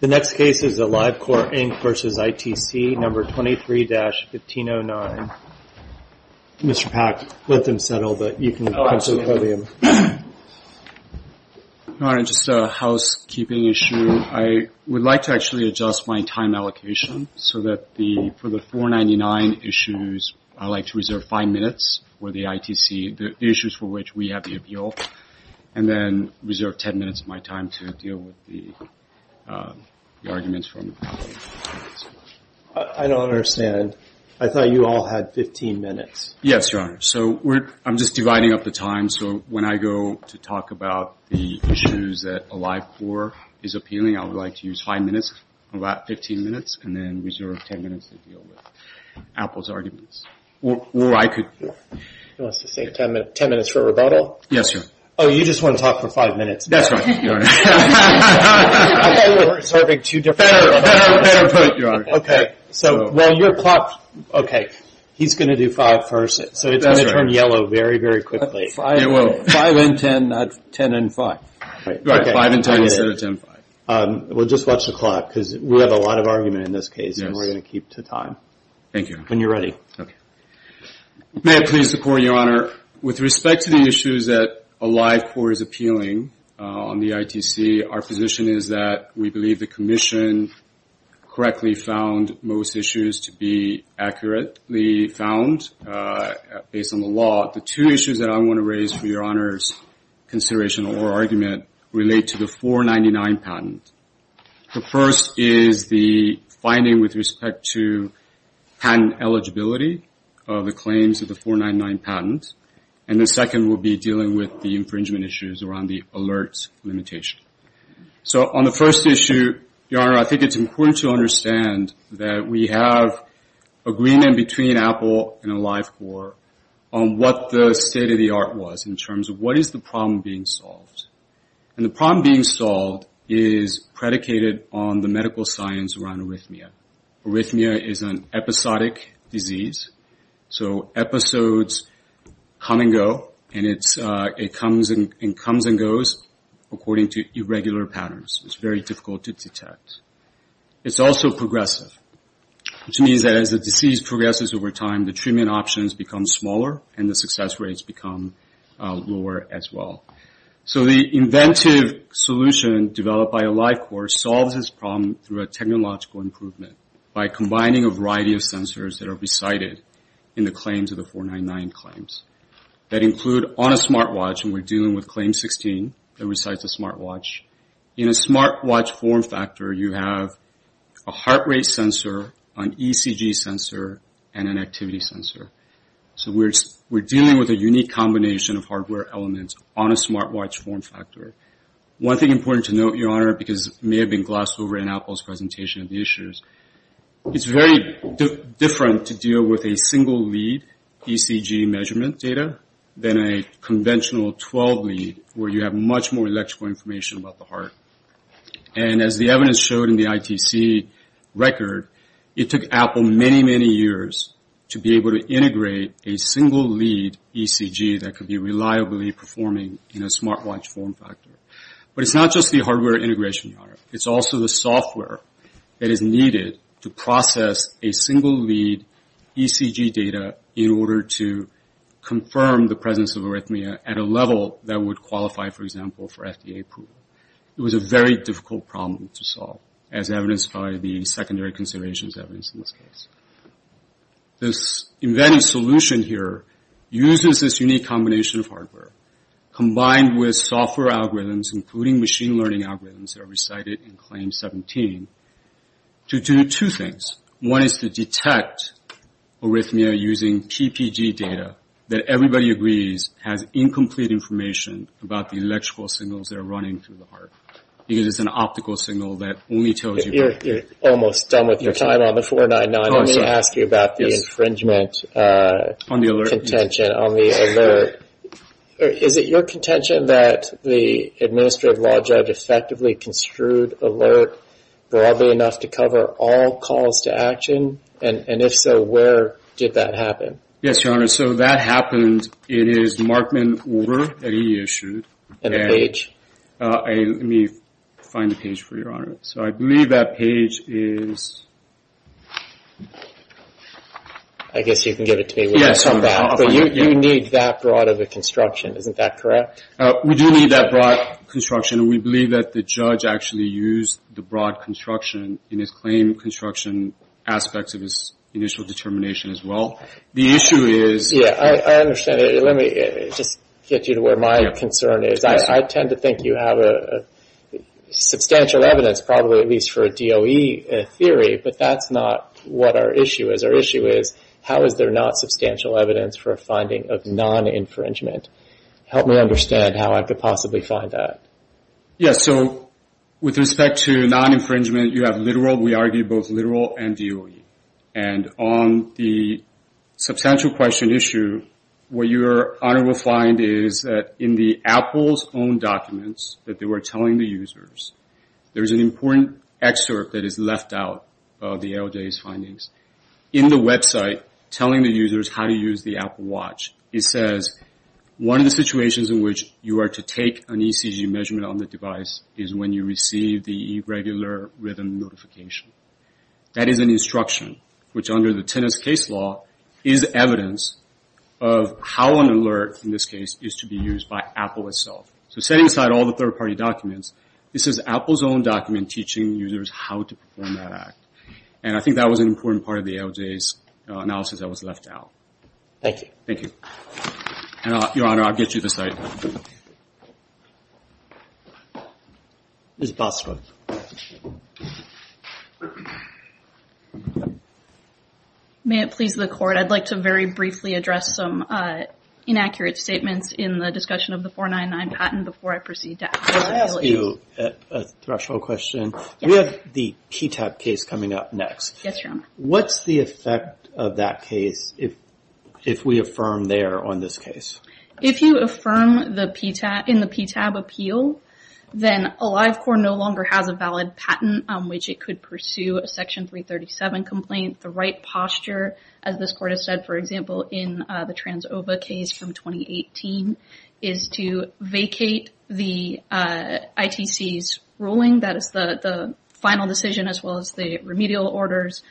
The next case is AliveCor, Inc. v. ITC, No. 23-1509. Mr. Pack, let them settle. You can approach the podium. All right, just a housekeeping issue. I would like to actually adjust my time allocation so that for the 499 issues, I'd like to reserve five minutes for the ITC, the issues for which we have the appeal, and then reserve 10 minutes of my time to deal with the arguments from the panel. I don't understand. I thought you all had 15 minutes. Yes, Your Honor. So I'm just dividing up the time, so when I go to talk about the issues that AliveCor is appealing, I would like to use five minutes, or about 15 minutes, and then reserve 10 minutes to deal with Apple's arguments. Or I could... He wants to save 10 minutes for a rebuttal? Yes, Your Honor. Oh, you just want to talk for five minutes. That's right, Your Honor. I thought we were reserving two different... Better put, Your Honor. Okay, so while you're clocked... Okay, he's going to do five first, so it's going to turn yellow very, very quickly. Five and 10, not 10 and five. Right, five and 10 instead of 10 and five. Well, just watch the clock, because we have a lot of argument in this case, and we're going to keep to time. Thank you. When you're ready. May I please report, Your Honor, with respect to the issues that AliveCor is appealing on the ITC, our position is that we believe the Commission correctly found most issues to be accurately found based on the law. The two issues that I want to raise for Your Honor's consideration or argument relate to the 499 patent. The first is the finding with respect to patent eligibility of the claims of the 499 patent, and the second will be dealing with the infringement issues around the alerts limitation. So on the first issue, Your Honor, I think it's important to understand that we have agreement between Apple and AliveCor on what the state of the art was in terms of what is the problem being solved. And the problem being solved is predicated on the medical science around arrhythmia. Arrhythmia is an episodic disease. So episodes come and go, and it comes and goes according to irregular patterns. It's very difficult to detect. It's also progressive, which means that as the disease progresses over time, the treatment options become smaller and the success rates become lower as well. So the inventive solution developed by AliveCor solves this problem through a technological improvement by combining a variety of sensors that are recited in the claims of the 499 claims that include on a smartwatch, and we're dealing with Claim 16 that recites a smartwatch. In a smartwatch form factor, you have a heart rate sensor, an ECG sensor, and an activity sensor. So we're dealing with a unique combination of hardware elements on a smartwatch form factor. One thing important to note, Your Honor, because it may have been glossed over in Apple's presentation of the issues, it's very different to deal with a single lead ECG measurement data than a conventional 12 lead, where you have much more electrical information about the heart. And as the evidence showed in the ITC record, it took Apple many, many years to be able to integrate a single lead ECG that could be reliably performing in a smartwatch form factor. But it's not just the hardware integration, Your Honor. It's also the software that is needed to process a single lead ECG data in order to confirm the presence of arrhythmia at a level that would qualify, for example, for FDA approval. It was a very difficult problem to solve, as evidenced by the secondary considerations evidence in this case. This embedded solution here uses this unique combination of hardware combined with software algorithms, including machine learning algorithms that are recited in Claim 17, to do two things. One is to detect arrhythmia using PPG data that everybody agrees has incomplete information about the electrical signals that are running through the heart. Because it's an optical signal that only tells you. You're almost done with your time on the 499. Let me ask you about the infringement contention on the alert. Is it your contention that the administrative law judge effectively construed alert broadly enough to cover all calls to action? And if so, where did that happen? Yes, Your Honor. So that happened, it is Markman Order that he issued. And the page? Let me find the page for you, Your Honor. So I believe that page is... I guess you can give it to me. Yes. But you need that broad of a construction, isn't that correct? We do need that broad construction. We believe that the judge actually used the broad construction in his claim construction aspects of his initial determination as well. The issue is... Yeah, I understand it. Let me just get you to where my concern is. I tend to think you have substantial evidence, probably at least for a DOE theory, but that's not what our issue is. Our issue is, how is there not substantial evidence for a finding of non-infringement? Help me understand how I could possibly find that. Yes, so with respect to non-infringement, you have literal, we argue both literal and DOE. And on the substantial question issue, what Your Honor will find is that in the Apple's own documents that they were telling the users, there's an important excerpt that is left out of the ALJ's findings. In the website, telling the users how to use the Apple Watch, it says, one of the situations in which you are to take an ECG measurement on the device is when you receive the irregular rhythm notification. That is an instruction, which under the Tennis Case Law is evidence of how an alert, in this case, is to be used by Apple itself. So setting aside all the third party documents, this is Apple's own document teaching users how to perform that act. And I think that was an important part of the ALJ's analysis that was left out. Thank you. Thank you. And Your Honor, I'll get you the site. Ms. Bosworth. May it please the Court, I'd like to very briefly address some inaccurate statements in the discussion of the 499 patent before I proceed to ask questions. Can I ask you a threshold question? We have the PTAB case coming up next. Yes, Your Honor. What's the effect of that case if we affirm there on this case? If you affirm in the PTAB appeal, then AliveCorps no longer has a valid patent on which it could pursue a Section 337 complaint. The right posture, as this Court has said, for example, in the TransOva case from 2018, is to vacate the ITC's ruling, that is the final decision, as well as the remedial orders,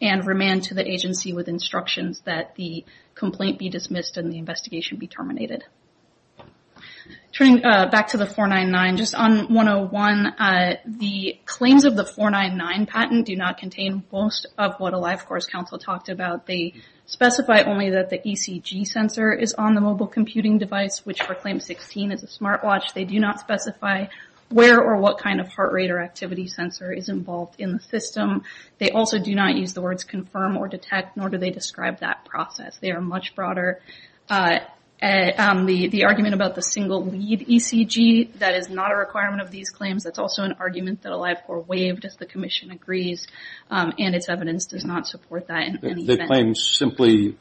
and remand to the agency with instructions that the complaint be dismissed and the investigation be terminated. Turning back to the 499, just on 101, the claims of the 499 patent do not contain most of what AliveCorps Counsel talked about. They specify only that the ECG sensor is on the mobile computing device, which for Claim 16 is a smartwatch. They do not specify where or what kind of heart rate or activity sensor is involved in the system. They also do not use the words confirm or detect, nor do they describe that process. They are much broader. The argument about the single-lead ECG, that is not a requirement of these claims. That's also an argument that AliveCorps waived if the Commission agrees, and its evidence does not support that in any event. The claim simply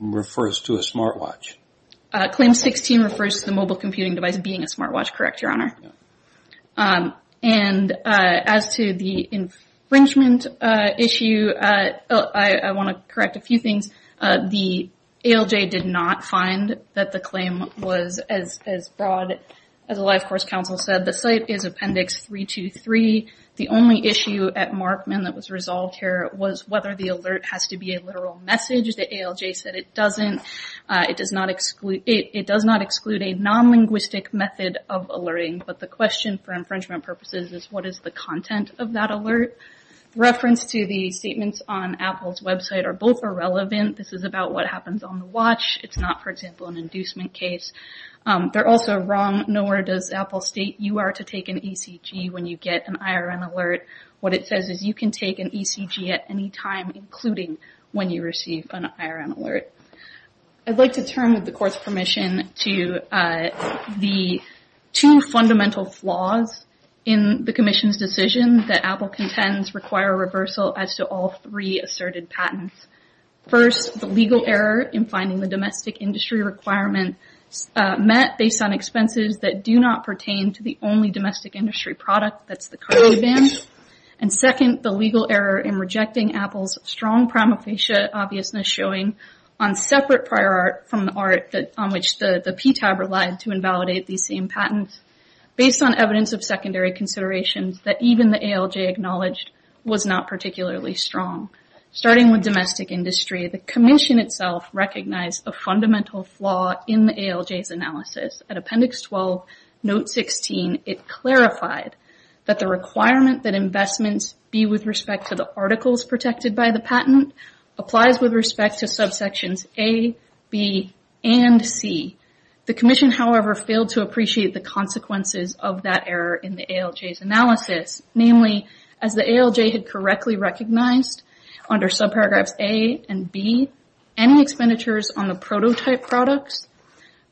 refers to a smartwatch. Claim 16 refers to the mobile computing device as being a smartwatch, correct, Your Honor? And as to the infringement issue, I want to correct a few things. The ALJ did not find that the claim was as broad as AliveCorps Counsel said. The site is Appendix 323. The only issue at Markman that was resolved here was whether the alert has to be a literal message. The ALJ said it doesn't. It does not exclude a non-linguistic method of alerting, but the question for infringement purposes is what is the content of that alert? Reference to the statements on Apple's website are both irrelevant. This is about what happens on the watch. It's not, for example, an inducement case. They're also wrong, nor does Apple state you are to take an ECG when you get an IRN alert. What it says is you can take an ECG at any time, including when you receive an IRN alert. I'd like to turn with the Court's permission to the two fundamental flaws in the Commission's decision that Apple contends require a reversal as to all three asserted patents. First, the legal error in finding the domestic industry requirement met based on expenses that do not pertain to the only domestic industry product that's the card revamped, and second, the legal error in rejecting Apple's strong prima facie obviousness showing on separate prior art from the art on which the PTAB relied to invalidate these same patents based on evidence of secondary considerations that even the ALJ acknowledged was not particularly strong. Starting with domestic industry, the Commission itself recognized a fundamental flaw in the ALJ's analysis. At Appendix 12, Note 16, it clarified that the requirement that investments be with respect to the articles protected by the patent applies with respect to subsections A, B, and C. The Commission, however, failed to appreciate the consequences of that error in the ALJ's analysis. Namely, as the ALJ had correctly recognized under subparagraphs A and B, any expenditures on the prototype products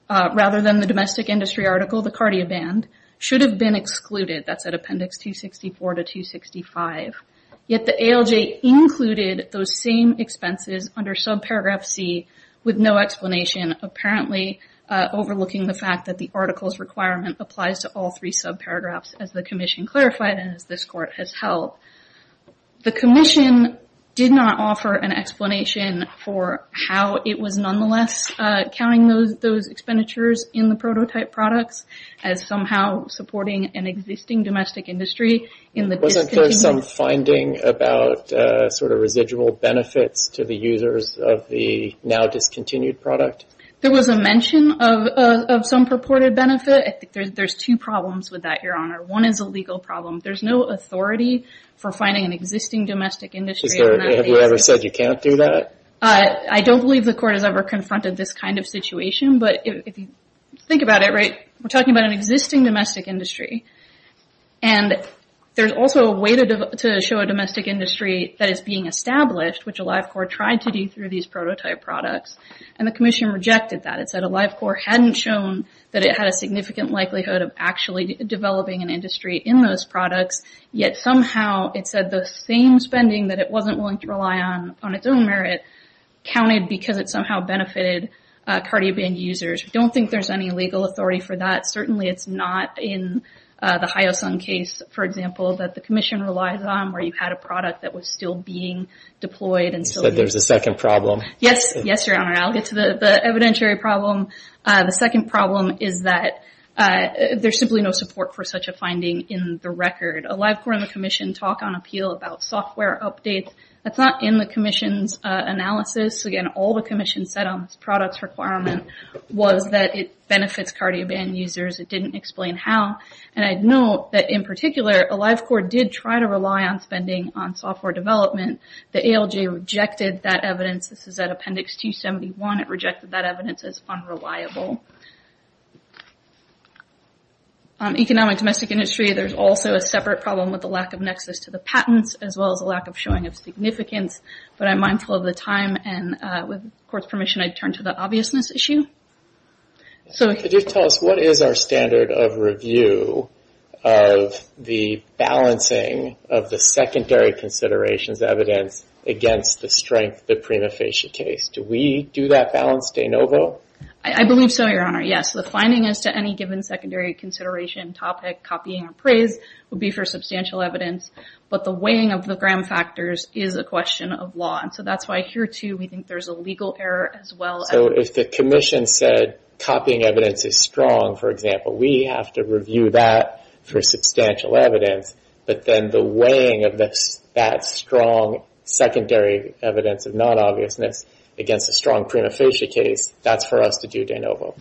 rather than the domestic industry article, the Cardia Band, should have been excluded. That's at Appendix 264 to 265. Yet the ALJ included those same expenses under subparagraph C with no explanation, apparently overlooking the fact that the article's requirement applies to all three subparagraphs as the Commission clarified and as this Court has held. The Commission did not offer an explanation for how it was nonetheless counting those expenditures in the prototype products as somehow supporting an existing domestic industry in the discontinued- Wasn't there some finding about sort of residual benefits to the users of the now discontinued product? There was a mention of some purported benefit. There's two problems with that, Your Honor. One is a legal problem. There's no authority for finding an existing domestic industry- Have you ever said you can't do that? I don't believe the Court has ever confronted this kind of situation, but if you think about it, right, we're talking about an existing domestic industry, and there's also a way to show a domestic industry that is being established, which a Live Corps tried to do through these prototype products, and the Commission rejected that. It said a Live Corps hadn't shown that it had a significant likelihood of actually developing an industry in those products, yet somehow it said the same spending that it wasn't willing to rely on on its own merit counted because it somehow benefited Cardioband users. We don't think there's any legal authority for that. Certainly it's not in the Hyosung case, for example, that the Commission relies on, where you had a product that was still being deployed, and so- You said there's a second problem. Yes, Your Honor, I'll get to the evidentiary problem. The second problem is that there's simply no support for such a finding in the record. A Live Corps and the Commission talk on appeal about software updates. That's not in the Commission's analysis. Again, all the Commission said on this product's requirement was that it benefits Cardioband users. It didn't explain how, and I'd note that in particular, a Live Corps did try to rely on spending on software development. The ALJ rejected that evidence. This is at Appendix 271. It rejected that evidence as unreliable. Economic domestic industry, there's also a separate problem with the lack of nexus to the patents, as well as a lack of showing of significance, but I'm mindful of the time, and with the Court's permission, I'd turn to the obviousness issue. So- Could you tell us, what is our standard of review of the balancing of the secondary considerations evidence against the strength, the prima facie case? Do we do that balance de novo? I believe so, Your Honor. Yes, the finding as to any given secondary consideration topic, copying or praise would be for substantial evidence, but the weighing of the gram factors is a question of law, and so that's why here, too, we think there's a legal error, as well. So if the Commission said, copying evidence is strong, for example, we have to review that for substantial evidence, but then the weighing of that strong secondary evidence of non-obviousness against a strong prima facie case, that's for us to do de novo.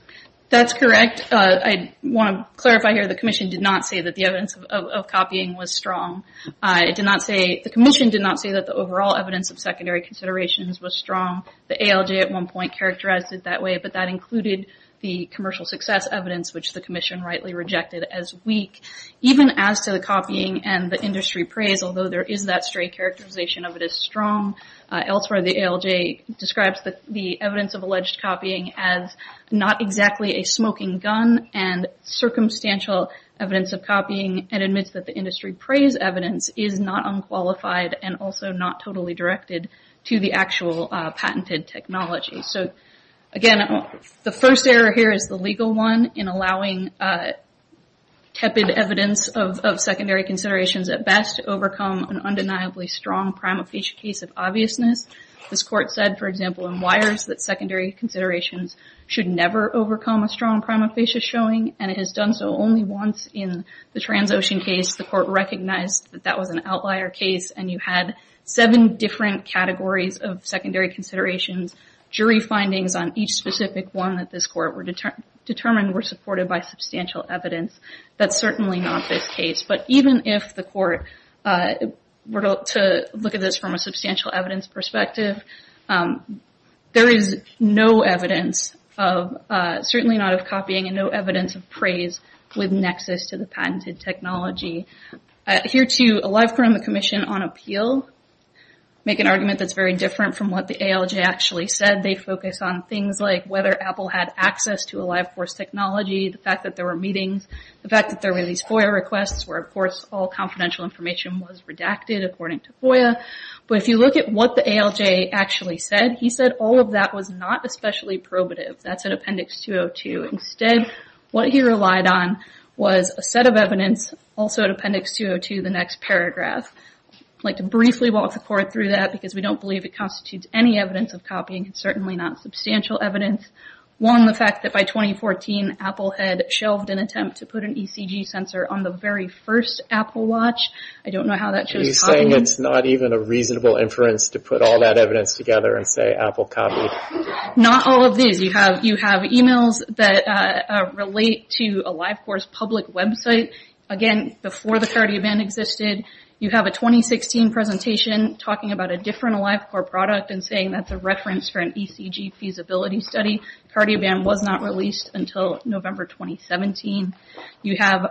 That's correct. I want to clarify here, the Commission did not say that the evidence of copying was strong. It did not say, the Commission did not say that the overall evidence of secondary considerations was strong. The ALJ, at one point, characterized it that way, but that included the commercial success evidence, which the Commission rightly rejected as weak. Even as to the copying and the industry praise, although there is that stray characterization of it as strong, elsewhere, the ALJ describes the evidence of alleged copying as not exactly a smoking gun and circumstantial evidence of copying and admits that the industry praise evidence is not unqualified and also not totally directed to the actual patented technology. So again, the first error here is the legal one in allowing tepid evidence of secondary considerations at best to overcome an undeniably strong prima facie case of obviousness. This court said, for example, in Wires that secondary considerations should never overcome a strong prima facie showing, and it has done so only once in the Transocean case. The court recognized that that was an outlier case and you had seven different categories of secondary considerations. Jury findings on each specific one that this court determined were supported by substantial evidence. That's certainly not this case, but even if the court were to look at this from a substantial evidence perspective, there is no evidence of, certainly not of copying and no evidence of praise with nexus to the patented technology. Here too, Alive Chrome and the Commission on Appeal make an argument that's very different from what the ALJ actually said. They focus on things like whether Apple had access to Alive Force technology, the fact that there were meetings, the fact that there were these FOIA requests where of course all confidential information was redacted according to FOIA. But if you look at what the ALJ actually said, he said all of that was not especially probative. That's in Appendix 202. Instead, what he relied on was a set of evidence, also in Appendix 202, the next paragraph. I'd like to briefly walk the court through that because we don't believe it constitutes any evidence of copying. It's certainly not substantial evidence. One, the fact that by 2014, Apple had shelved an attempt to put an ECG sensor on the very first Apple Watch. I don't know how that shows up. I'm just saying it's not even a reasonable inference to put all that evidence together and say Apple copied. Not all of these. You have emails that relate to AliveCore's public website. Again, before the cardio band existed. You have a 2016 presentation talking about a different AliveCore product and saying that's a reference for an ECG feasibility study. Cardio band was not released until November 2017. You have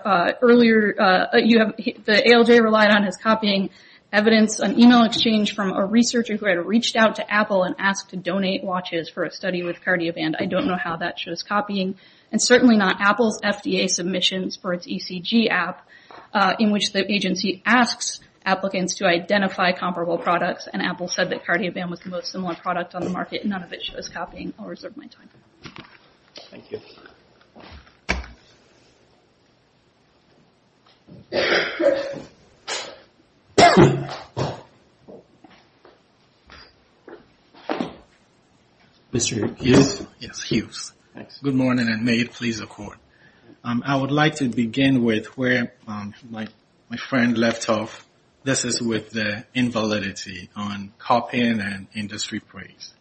earlier, the ALJ relied on as copying evidence, an email exchange from a researcher who had reached out to Apple and asked to donate watches for a study with cardio band. I don't know how that shows copying. And certainly not Apple's FDA submissions for its ECG app in which the agency asks applicants to identify comparable products. And Apple said that cardio band was the most similar product on the market. None of it shows copying. I'll reserve my time. Thank you. Mr. Hughes? Yes, Hughes. Good morning and may it please the court. I would like to begin with where my friend left off. This is with the invalidity on copying and industry praise.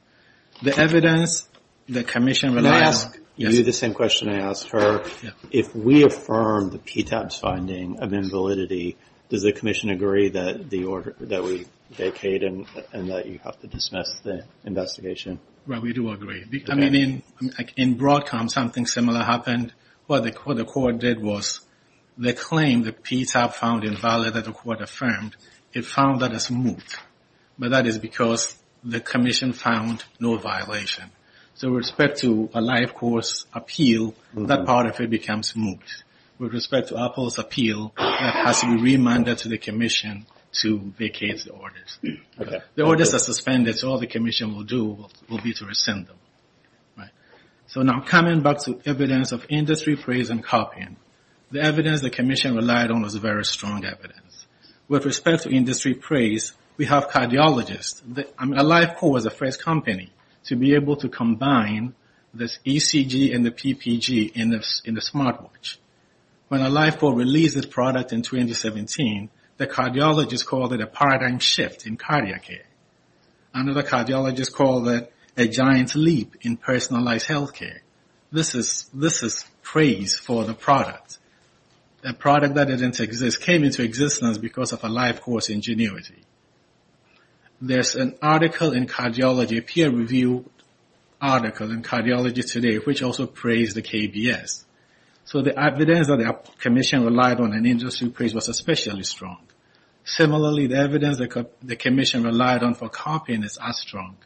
The evidence, the commission. May I ask you the same question I asked her? If we affirm the PTAP's finding of invalidity, does the commission agree that we vacate and that you have to dismiss the investigation? Well, we do agree. I mean, in Broadcom, something similar happened. What the court did was they claimed the PTAP found invalid that the court affirmed. It found that it's moot. But that is because the commission found no violation. So with respect to a life course appeal, that part of it becomes moot. With respect to Apple's appeal, that has to be remanded to the commission to vacate the orders. The orders are suspended, so all the commission will do will be to rescind them. So now coming back to evidence of industry praise and copying. The evidence the commission relied on was very strong evidence. With respect to industry praise, we have cardiologists. I mean, AliveCore was the first company to be able to combine this ECG and the PPG in the smartwatch. When AliveCore released this product in 2017, the cardiologist called it a paradigm shift in cardiac care. Another cardiologist called it a giant leap in personalized healthcare. This is praise for the product. A product that didn't exist came into existence because of AliveCore's ingenuity. There's an article in cardiology, a peer-reviewed article in cardiology today, which also praised the KBS. So the evidence that the commission relied on in industry praise was especially strong. Similarly, the evidence the commission relied on for copying is as strong.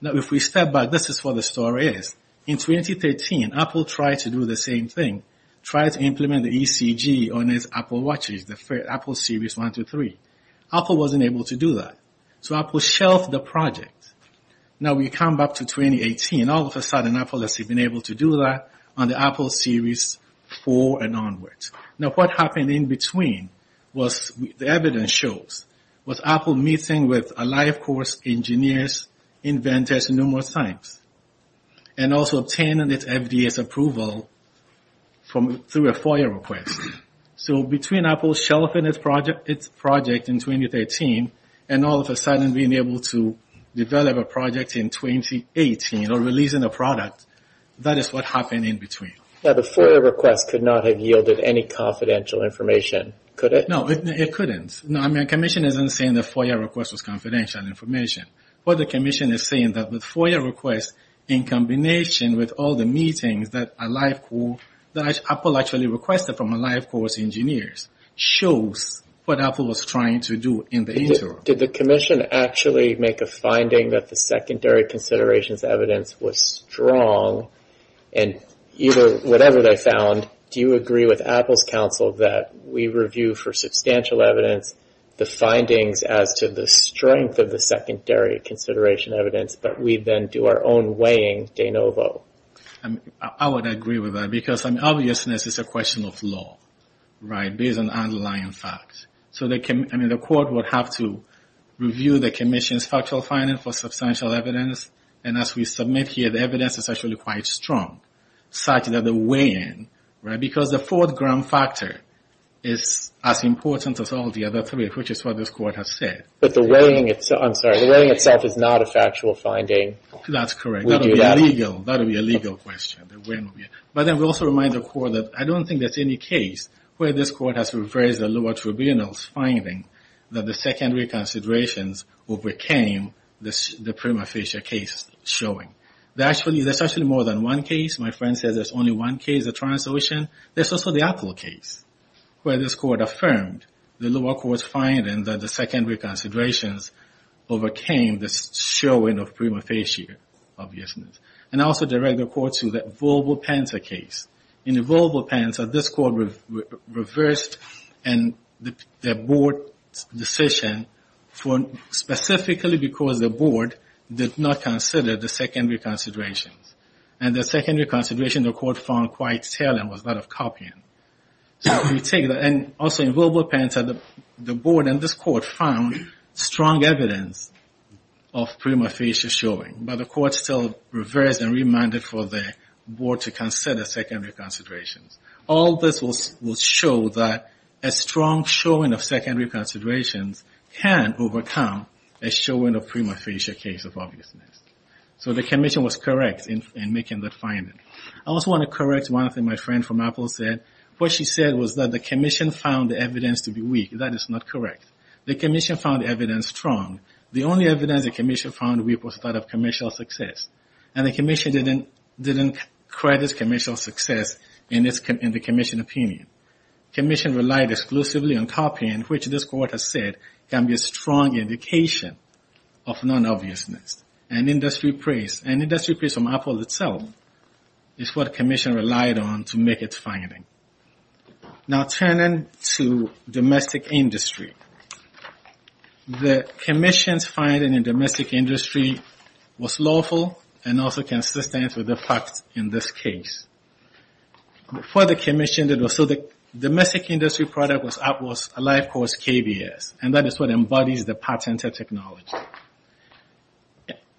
Now if we step back, this is what the story is. In 2013, Apple tried to do the same thing, tried to implement the ECG on its Apple watches, the Apple Series 1 to 3. Apple wasn't able to do that. So Apple shelved the project. Now we come back to 2018. All of a sudden, Apple has been able to do that on the Apple Series 4 and onwards. Now what happened in between was, the evidence shows, was Apple meeting with AliveCore's engineers, inventors numerous times, and also obtaining its FDA's approval through a FOIA request. So between Apple shelving its project in 2013, and all of a sudden being able to develop a project in 2018, or releasing a product, that is what happened in between. Now the FOIA request could not have yielded any confidential information, could it? No, it couldn't. Now the commission isn't saying the FOIA request was confidential information, but the commission is saying that the FOIA request, in combination with all the meetings that AliveCore, that Apple actually requested from AliveCore's engineers, shows what Apple was trying to do in the interim. Did the commission actually make a finding that the secondary considerations evidence was strong, and whatever they found, do you agree with Apple's counsel that we review for substantial evidence the findings as to the strength of the secondary consideration evidence, but we then do our own weighing de novo? I would agree with that, because obviousness is a question of law, right? Based on underlying facts. So the court would have to review the commission's factual finding for substantial evidence, and as we submit here, the evidence is actually quite strong, such that the weighing, right? Because the fourth ground factor is as important as all the other three, which is what this court has said. But the weighing itself, I'm sorry, the weighing itself is not a factual finding. That's correct. That would be illegal, that would be a legal question. But then we also remind the court that I don't think there's any case where this court has reversed the lower tribunal's finding that the secondary considerations overcame the prima facie case showing. There's actually more than one case. My friend says there's only one case, the translucent. There's also the Apple case, where this court affirmed the lower court's finding that the secondary considerations overcame the showing of prima facie obviousness. And I also direct the court to the Volvo-Panther case. In the Volvo-Panther, this court reversed and the board's decision for specifically because the board did not consider the secondary considerations. And the secondary considerations the court found quite telling was that of copying. So we take that, and also in Volvo-Panther, the board and this court found strong evidence of prima facie showing. But the court still reversed and reminded for the board to consider secondary considerations. All this will show that a strong showing of secondary considerations can overcome a showing of prima facie case of obviousness. So the commission was correct in making that finding. I also want to correct one thing my friend from Apple said. What she said was that the commission found the evidence to be weak, that is not correct. The commission found evidence strong. The only evidence the commission found weak was that of commercial success. And the commission didn't credit commercial success in the commission opinion. Commission relied exclusively on copying, which this court has said can be a strong indication of non-obviousness. And industry praise from Apple itself is what commission relied on to make its finding. Now turning to domestic industry. The commission's finding in domestic industry was lawful and also consistent with the facts in this case. For the commission, so the domestic industry product was Apple's life course KBS, and that is what embodies the patented technology.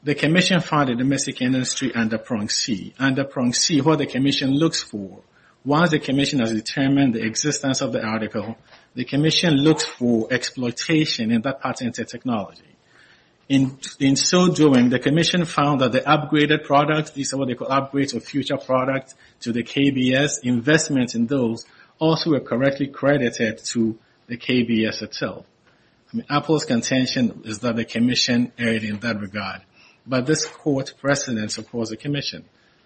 The commission found the domestic industry under prong C. Under prong C, what the commission looks for was the commission has determined the existence of the article, the commission looks for exploitation in that patented technology. In so doing, the commission found that the upgraded product, these are what they call upgrades or future products to the KBS investments in those also were correctly credited to the KBS itself. Apple's contention is that the commission erred in that regard. But this court precedent supports the commission.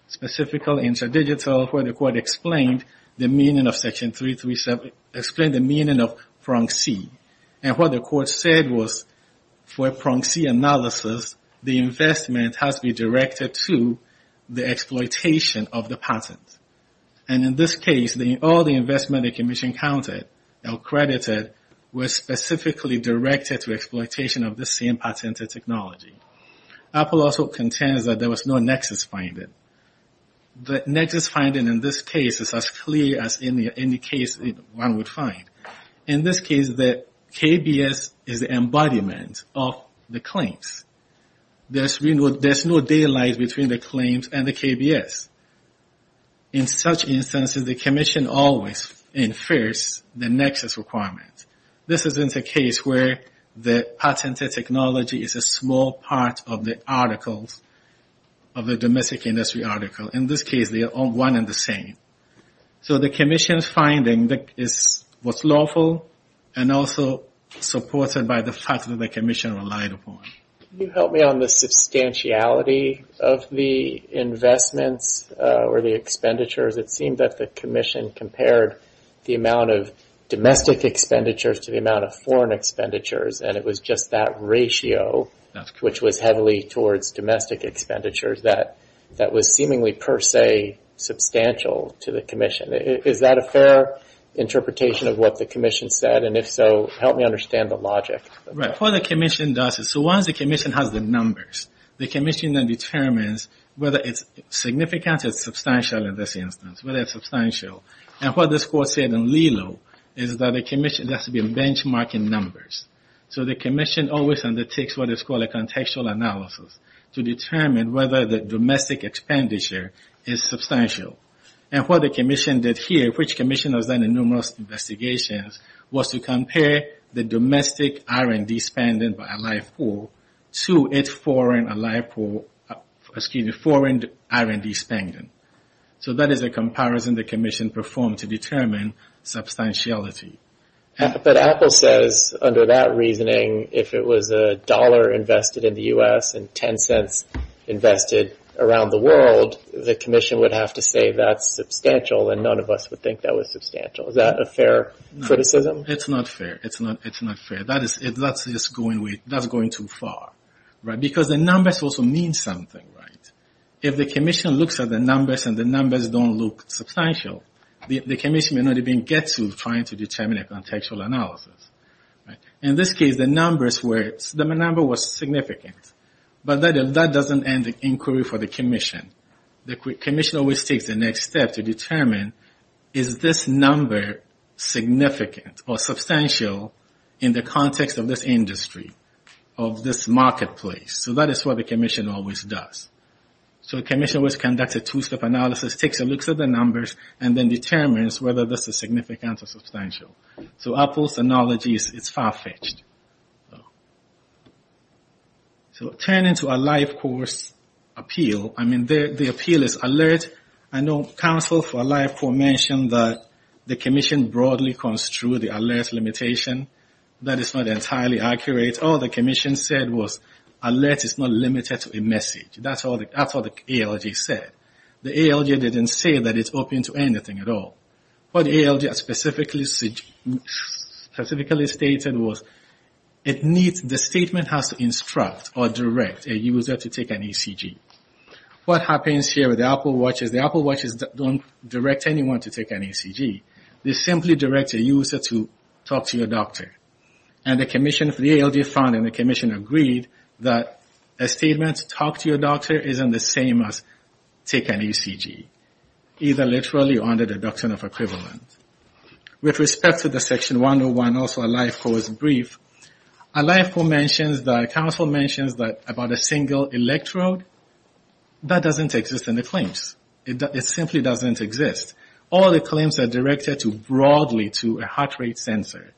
Specifical, interdigital, where the court explained the meaning of section 337, explained the meaning of prong C. And what the court said was for prong C analysis, the investment has to be directed to the exploitation of the patent. And in this case, all the investment the commission counted or credited was specifically directed to exploitation of the same patented technology. Apple also contends that there was no nexus finding. The nexus finding in this case is as clear as any case one would find. In this case, the KBS is the embodiment of the claims. There's no daylight between the claims and the KBS. In such instances, the commission always infers the nexus requirement. This isn't a case where the patented technology is a small part of the articles of the domestic industry article. In this case, they are all one and the same. So the commission's finding was lawful and also supported by the fact that the commission relied upon. Can you help me on the substantiality of the investments or the expenditures? It seemed that the commission compared the amount of domestic expenditures to the amount of foreign expenditures and it was just that ratio, which was heavily towards domestic expenditures, that was seemingly per se substantial to the commission. Is that a fair interpretation of what the commission said? And if so, help me understand the logic. Right, what the commission does is, so once the commission has the numbers, the commission then determines whether it's significant or substantial in this instance, whether it's substantial. And what this court said in Lilo is that the commission has to be benchmarking numbers. So the commission always undertakes what is called a contextual analysis to determine whether the domestic expenditure is substantial. And what the commission did here, which commission has done numerous investigations, was to compare the domestic R&D spending by a live pool to its foreign R&D spending. So that is a comparison the commission performed to determine substantiality. But Apple says under that reasoning, if it was a dollar invested in the US and 10 cents invested around the world, the commission would have to say that's substantial and none of us would think that was substantial. Is that a fair criticism? It's not fair, it's not fair. That's just going too far, right? Because the numbers also mean something, right? If the commission looks at the numbers and the numbers don't look substantial, the commission may not even get to trying to determine a contextual analysis. In this case, the number was significant. But that doesn't end the inquiry for the commission. The commission always takes the next step to determine is this number significant or substantial in the context of this industry, of this marketplace? So that is what the commission always does. So the commission always conducts a two-step analysis, takes a look at the numbers, and then determines whether this is significant or substantial. So Apple's analogy is far-fetched. So turning to a life course appeal, I mean, the appeal is alert. I know counsel for a life course mentioned that the commission broadly construed the alert limitation. That is not entirely accurate. All the commission said was alert is not limited to a message. That's all the ALG said. The ALG didn't say that it's open to anything at all. What the ALG specifically stated was the statement has to instruct or direct a user to take an ECG. What happens here with the Apple Watch is the Apple Watches don't direct anyone to take an ECG. They simply direct a user to talk to your doctor. And the commission, the ALG found, and the commission agreed that a statement to talk to your doctor isn't the same as take an ECG, either literally or under the doctrine of equivalent. With respect to the section 101, also a life course brief, a life course mentions that, counsel mentions that about a single electrode, that doesn't exist in the claims. It simply doesn't exist. All the claims are directed broadly to a heart rate sensor.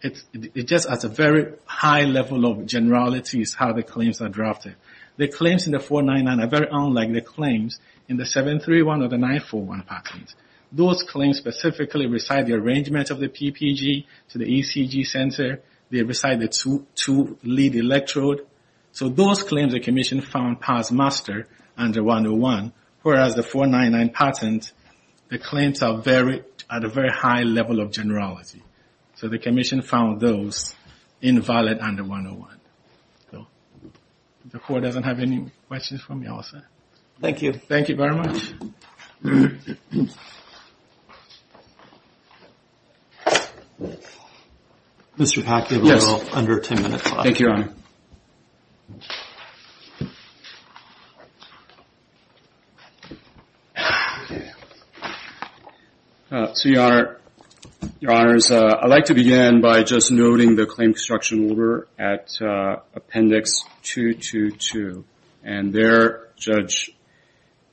It just has a very high level of generalities how the claims are drafted. The claims in the 499 are very unlike the claims in the 731 or the 941 patent. Those claims specifically recite the arrangement of the PPG to the ECG sensor. They recite the two lead electrode. So those claims the commission found pass master under 101, whereas the 499 patent, the claims are at a very high level of generality. So the commission found those invalid under 101. So if the court doesn't have any questions from you all, sir. Thank you. Thank you very much. Mr. Pack, you have a little under 10 minutes left. Thank you, Your Honor. So Your Honor, Your Honors, I'd like to begin by just noting the claim construction order at Appendix 222. And there, Judge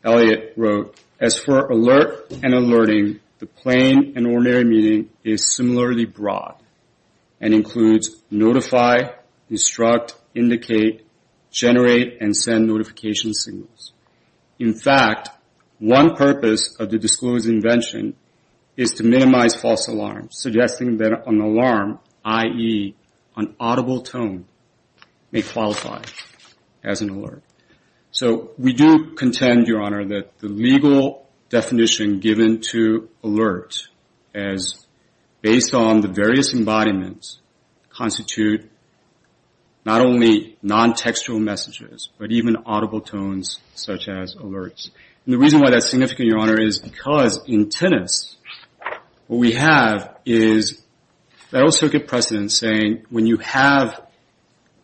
Elliott wrote, as for alert and alerting, the plain and ordinary meeting is similarly broad and includes notify, instruct, indicate, generate, and send notification signals. In fact, one purpose of the disclosed invention is to minimize false alarms, suggesting that an alarm, i.e. an audible tone, may qualify as an alert. So we do contend, Your Honor, that the legal definition given to alert as based on the various embodiments constitute not only non-textual messages, but even audible tones such as alerts. And the reason why that's significant, Your Honor, is because in tennis, what we have is, I also give precedence saying, when you have,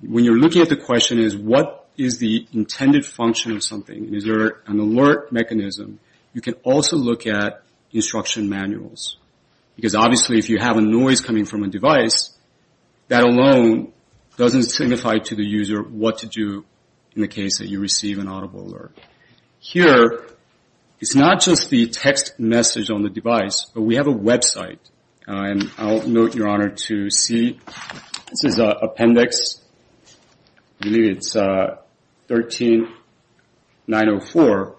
when you're looking at the question is what is the intended function of something? Is there an alert mechanism? You can also look at instruction manuals. Because obviously, if you have a noise coming from a device, that alone doesn't signify to the user what to do in the case that you receive an audible alert. Here, it's not just the text message on the device, but we have a website. And I'll note, Your Honor, to C. This is Appendix, I believe it's 13904.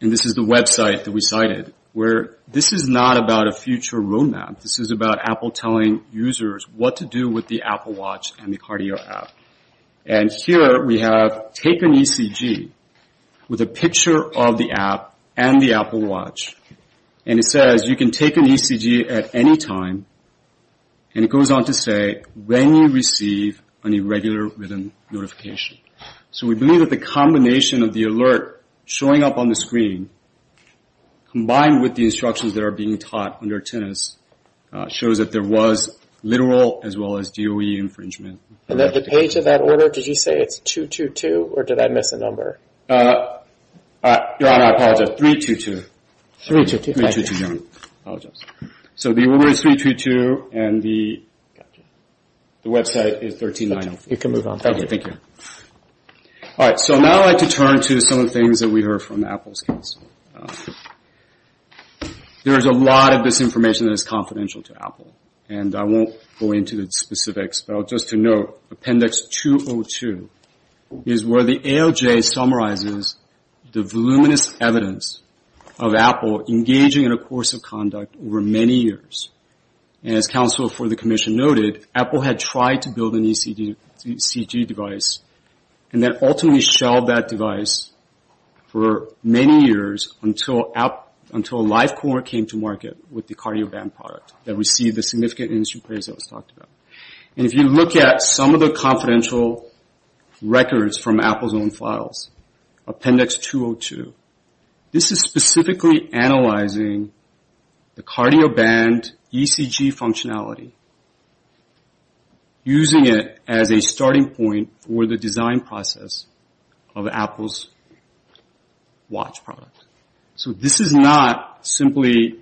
And this is the website that we cited, where this is not about a future roadmap. This is about Apple telling users what to do with the Apple Watch and the Cardio app. And here, we have take an ECG with a picture of the app and the Apple Watch. And it says, you can take an ECG at any time. And it goes on to say, when you receive an irregular rhythm notification. So we believe that the combination of the alert showing up on the screen, combined with the instructions that are being taught under tennis, shows that there was literal as well as DOE infringement. And then the page of that order, did you say it's 222? Or did I miss a number? Your Honor, I apologize, 322. 322, thank you. 322, Your Honor, I apologize. So the order is 322, and the website is 13904. You can move on, thank you. Thank you. All right, so now I'd like to turn to some of the things that we heard from Apple's counsel. There is a lot of misinformation that is confidential to Apple. And I won't go into the specifics, but just to note, Appendix 202 is where the ALJ summarizes the voluminous evidence of Apple engaging in a course of conduct over many years. And as counsel for the commission noted, Apple had tried to build an ECG device, and then ultimately shelled that device for many years until LifeCor came to market with the cardio band product that received the significant industry praise that was talked about. And if you look at some of the confidential records from Apple's own files, Appendix 202, this is specifically analyzing the cardio band ECG functionality, using it as a starting point for the design process of Apple's watch product. So this is not simply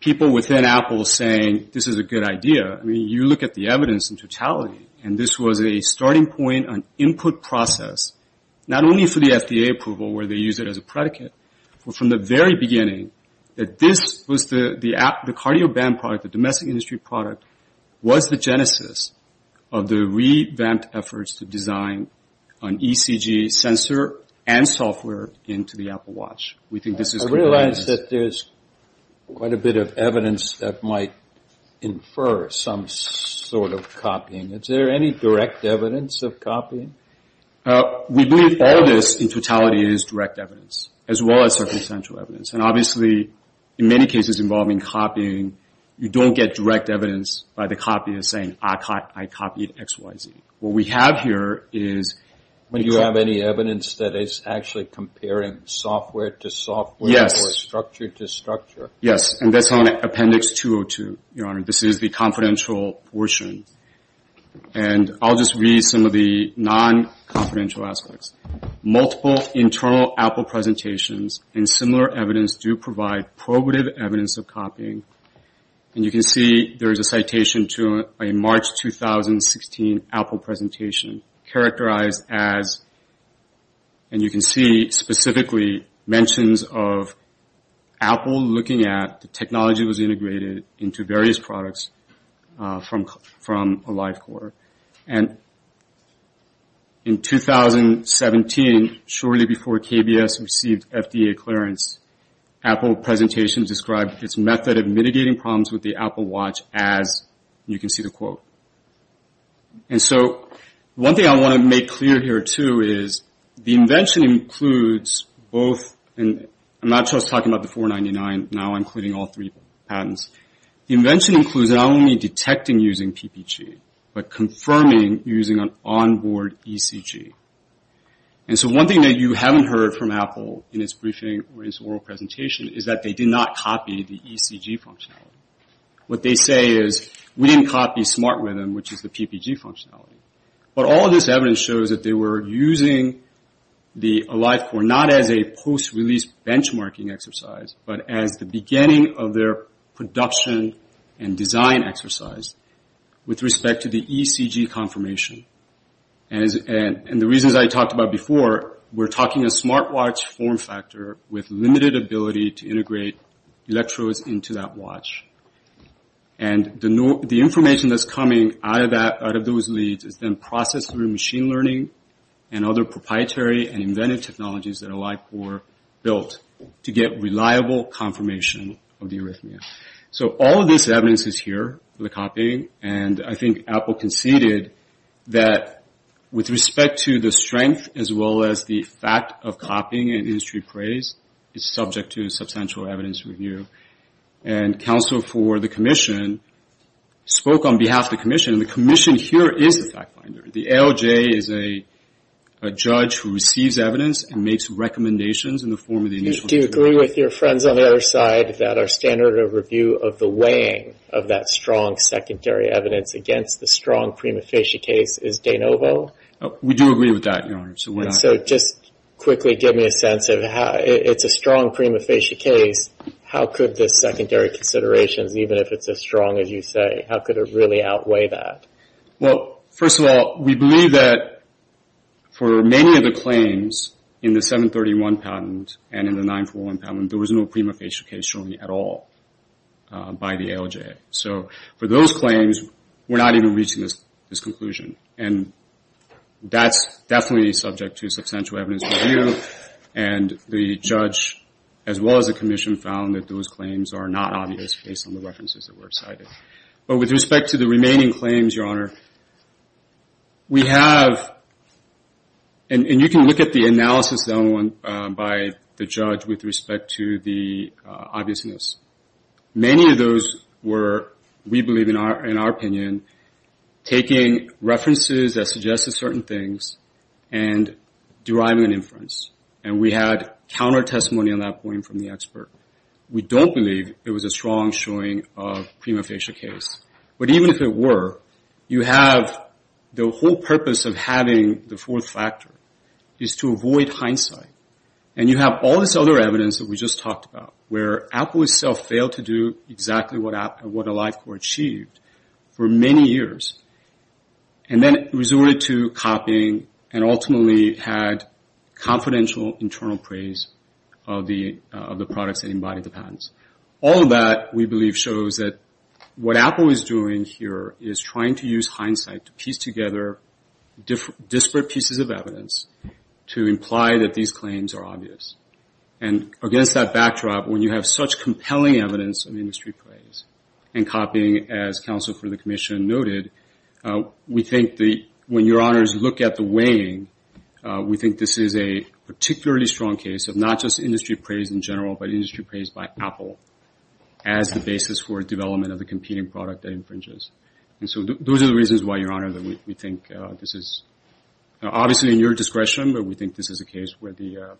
people within Apple saying, this is a good idea. I mean, you look at the evidence in totality, and this was a starting point on input process, not only for the FDA approval where they use it as a predicate, but from the very beginning, that this was the cardio band product, the domestic industry product, was the genesis of the revamped efforts to design an ECG sensor and software into the Apple watch. We think this is- I realize that there's quite a bit of evidence that might infer some sort of copying. Is there any direct evidence of copying? We believe all this in totality is direct evidence, as well as circumstantial evidence. And obviously, in many cases involving copying, you don't get direct evidence by the copier saying, I copied X, Y, Z. What we have here is- Would you have any evidence that is actually comparing software to software? Or structure to structure? Yes, and that's on Appendix 202, Your Honor. This is the confidential portion. And I'll just read some of the non-confidential aspects. Multiple internal Apple presentations and similar evidence do provide probative evidence of copying. And you can see there is a citation to a March 2016 Apple presentation characterized as, and you can see specifically, mentions of Apple looking at the technology that was integrated into various products from a live quarter. And in 2017, shortly before KBS received FDA clearance, Apple presentation described its method of mitigating problems with the Apple Watch as, and you can see the quote. And so, one thing I want to make clear here, too, is the invention includes both, and I'm not just talking about the 499, now I'm including all three patents. The invention includes not only detecting using PPG, but confirming using an onboard ECG. And so, one thing that you haven't heard from Apple in its briefing or its oral presentation is that they did not copy the ECG functionality. What they say is, we didn't copy Smart Rhythm, which is the PPG functionality. But all of this evidence shows that they were using the AliveCore not as a post-release benchmarking exercise, but as the beginning of their production and design exercise, with respect to the ECG confirmation. And the reasons I talked about before, we're talking a smart watch form factor with limited ability to integrate electrodes into that watch. And the information that's coming out of those leads is then processed through machine learning and other proprietary and invented technologies that AliveCore built to get reliable confirmation of the arrhythmia. So all of this evidence is here, the copying, and I think Apple conceded that with respect to the strength, as well as the fact of copying and industry praise, it's subject to substantial evidence review. And counsel for the commission spoke on behalf of the commission, and the commission here is the fact finder. The ALJ is a judge who receives evidence and makes recommendations in the form of the initial- Do you agree with your friends on the other side that our standard of review of the weighing of that strong secondary evidence against the strong prima facie case is de novo? We do agree with that, Your Honor. So just quickly give me a sense of how, it's a strong prima facie case, how could the secondary considerations, even if it's as strong as you say, how could it really outweigh that? Well, first of all, we believe that for many of the claims in the 731 patent and in the 941 patent, there was no prima facie case shown at all by the ALJ. So for those claims, we're not even reaching this conclusion and that's definitely subject to substantial evidence review and the judge, as well as the commission, found that those claims are not obvious based on the references that were cited. But with respect to the remaining claims, Your Honor, we have, and you can look at the analysis done by the judge with respect to the obviousness. Many of those were, we believe in our opinion, taking references that suggested certain things and deriving an inference. And we had counter-testimony on that point from the expert. We don't believe it was a strong showing of prima facie case. But even if it were, you have the whole purpose of having the fourth factor is to avoid hindsight. And you have all this other evidence that we just talked about where Apple itself failed to do exactly what AliveCore achieved for many years and then resorted to copying and ultimately had confidential internal praise of the products that embodied the patents. All of that, we believe, shows that what Apple is doing here is trying to use hindsight to piece together disparate pieces of evidence to imply that these claims are obvious. And against that backdrop, when you have such compelling evidence of industry praise and copying, as counsel for the commission noted, we think that when Your Honors look at the weighing, we think this is a particularly strong case of not just industry praise in general, but industry praise by Apple as the basis for development of the competing product that infringes. And so those are the reasons why, Your Honor, that we think this is, obviously in your discretion, but we think this is a case where the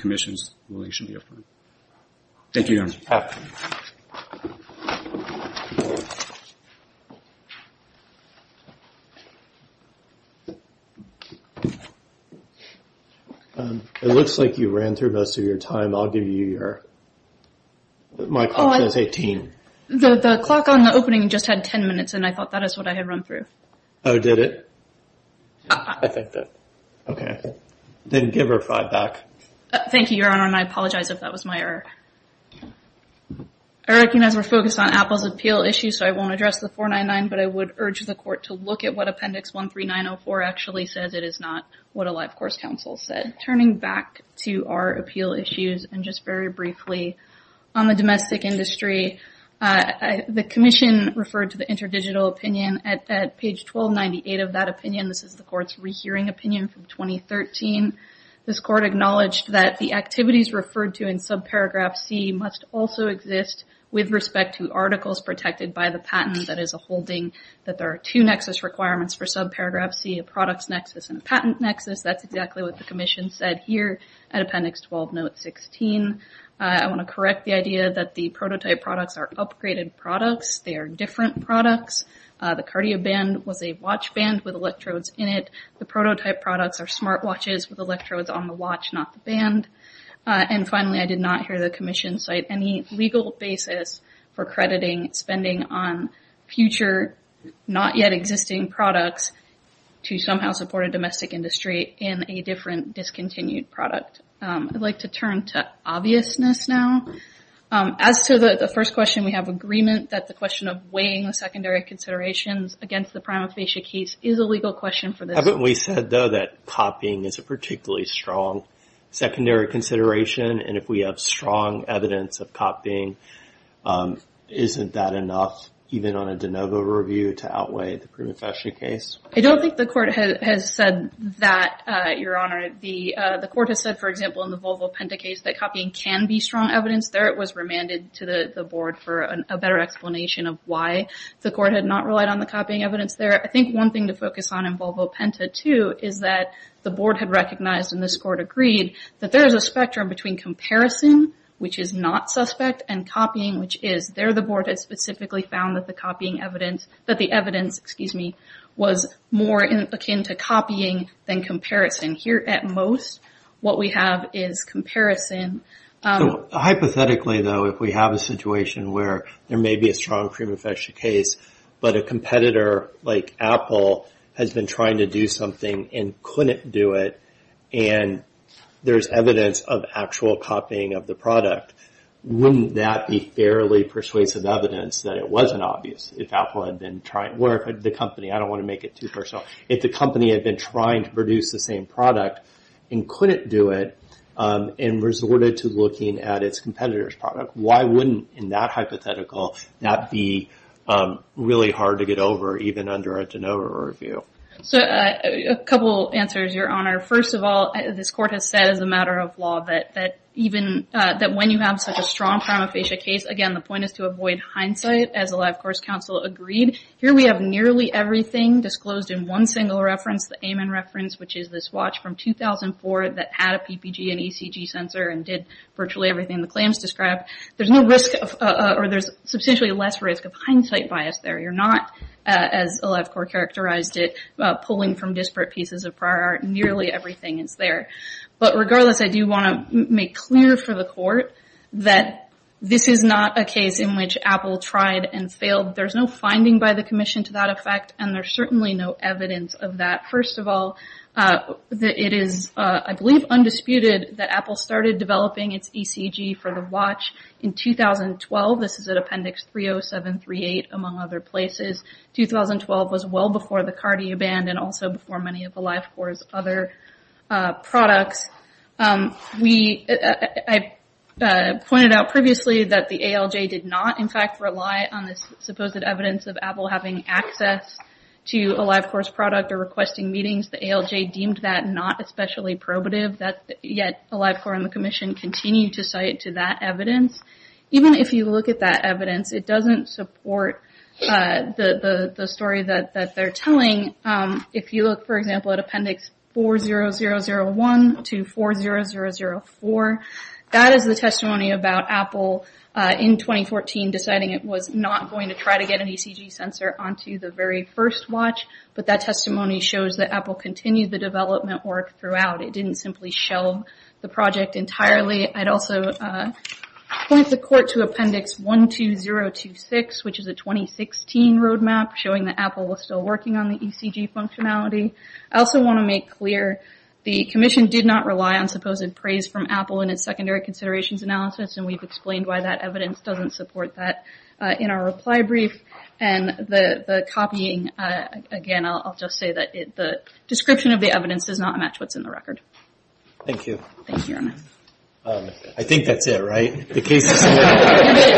commission's ruling should be affirmed. Thank you, Your Honor. Thank you. It looks like you ran through most of your time. I'll give you your, my clock says 18. The clock on the opening just had 10 minutes and I thought that is what I had run through. Oh, did it? I think that, okay. Then give her five back. Thank you, Your Honor, and I apologize if that was my error. I recognize we're focused on Apple's appeal issues, so I won't address the 499, but I would urge the court to look at what Appendix 13904 actually says. It is not what a life course counsel said. Turning back to our appeal issues, and just very briefly on the domestic industry, the commission referred to the interdigital opinion at page 1298 of that opinion. This is the court's rehearing opinion from 2013. This court acknowledged that the activities referred to in subparagraph C must also exist with respect to articles protected by the patent. That is a holding that there are two nexus requirements for subparagraph C, a products nexus and a patent nexus. That's exactly what the commission said here at Appendix 12 note 16. I want to correct the idea that the prototype products are upgraded products. They are different products. The cardio band was a watch band with electrodes in it. The prototype products are smart watches with electrodes on the watch, not the band. And finally, I did not hear the commission cite any legal basis for crediting spending on future, not yet existing products to somehow support a domestic industry in a different discontinued product. I'd like to turn to obviousness now. As to the first question, we have agreement that the question of weighing the secondary considerations against the prima facie case is a legal question for this. Haven't we said, though, that copying is a particularly strong secondary consideration, and if we have strong evidence of copying, isn't that enough, even on a de novo review, to outweigh the prima facie case? I don't think the court has said that, Your Honor. The court has said, for example, in the Volvo Penta case, that copying can be strong evidence. There it was remanded to the board for a better explanation of why the court had not relied on the copying evidence there. I think one thing to focus on in Volvo Penta too is that the board had recognized, and this court agreed, that there's a spectrum between comparison, which is not suspect, and copying, which is there the board has specifically found that the copying evidence, that the evidence, excuse me, was more akin to copying than comparison. Here, at most, what we have is comparison. Hypothetically, though, if we have a situation where there may be a strong prima facie case, but a competitor, like Apple, has been trying to do something and couldn't do it, and there's evidence of actual copying of the product, wouldn't that be fairly persuasive evidence that it wasn't obvious if Apple had been trying, or if the company, I don't wanna make it too personal, if the company had been trying to produce the same product and couldn't do it and resorted to looking at its competitor's product, why wouldn't, in that hypothetical, that be really hard to get over, even under a de novo review? So, a couple answers, Your Honor. First of all, this court has said, as a matter of law, that when you have such a strong prima facie case, again, the point is to avoid hindsight, as a LifeCourse counsel agreed. Here, we have nearly everything disclosed in one single reference, the Amen reference, which is this watch from 2004 that had a PPG and ECG sensor and did virtually everything the claims described. There's no risk, or there's substantially less risk of hindsight bias there. You're not, as a LifeCourse characterized it, pulling from disparate pieces of prior art. Nearly everything is there. But regardless, I do wanna make clear for the court that this is not a case in which Apple tried and failed. There's no finding by the commission to that effect, and there's certainly no evidence of that. First of all, it is, I believe, undisputed that Apple started developing its ECG for the watch in 2012. This is at Appendix 30738, among other places. 2012 was well before the Cartier ban, and also before many of the LifeCourse other products. We, I pointed out previously that the ALJ did not, in fact, rely on this supposed evidence of Apple having access to a LifeCourse product or requesting meetings. The ALJ deemed that not especially probative. Yet, the LifeCourse and the commission continue to cite to that evidence. Even if you look at that evidence, it doesn't support the story that they're telling. If you look, for example, at Appendix 40001, to 40004, that is the testimony about Apple, in 2014, deciding it was not going to try to get an ECG sensor onto the very first watch, but that testimony shows that Apple continued the development work throughout. It didn't simply shelve the project entirely. I'd also point the court to Appendix 12026, which is a 2016 roadmap, showing that Apple was still working on the ECG functionality. I also want to make clear, the commission did not rely on supposed praise from Apple in its secondary considerations analysis, and we've explained why that evidence doesn't support that in our reply brief. And the copying, again, I'll just say that the description of the evidence does not match what's in the record. Thank you. Thank you, Your Honor. I think that's it, right? The case is clear. And it is.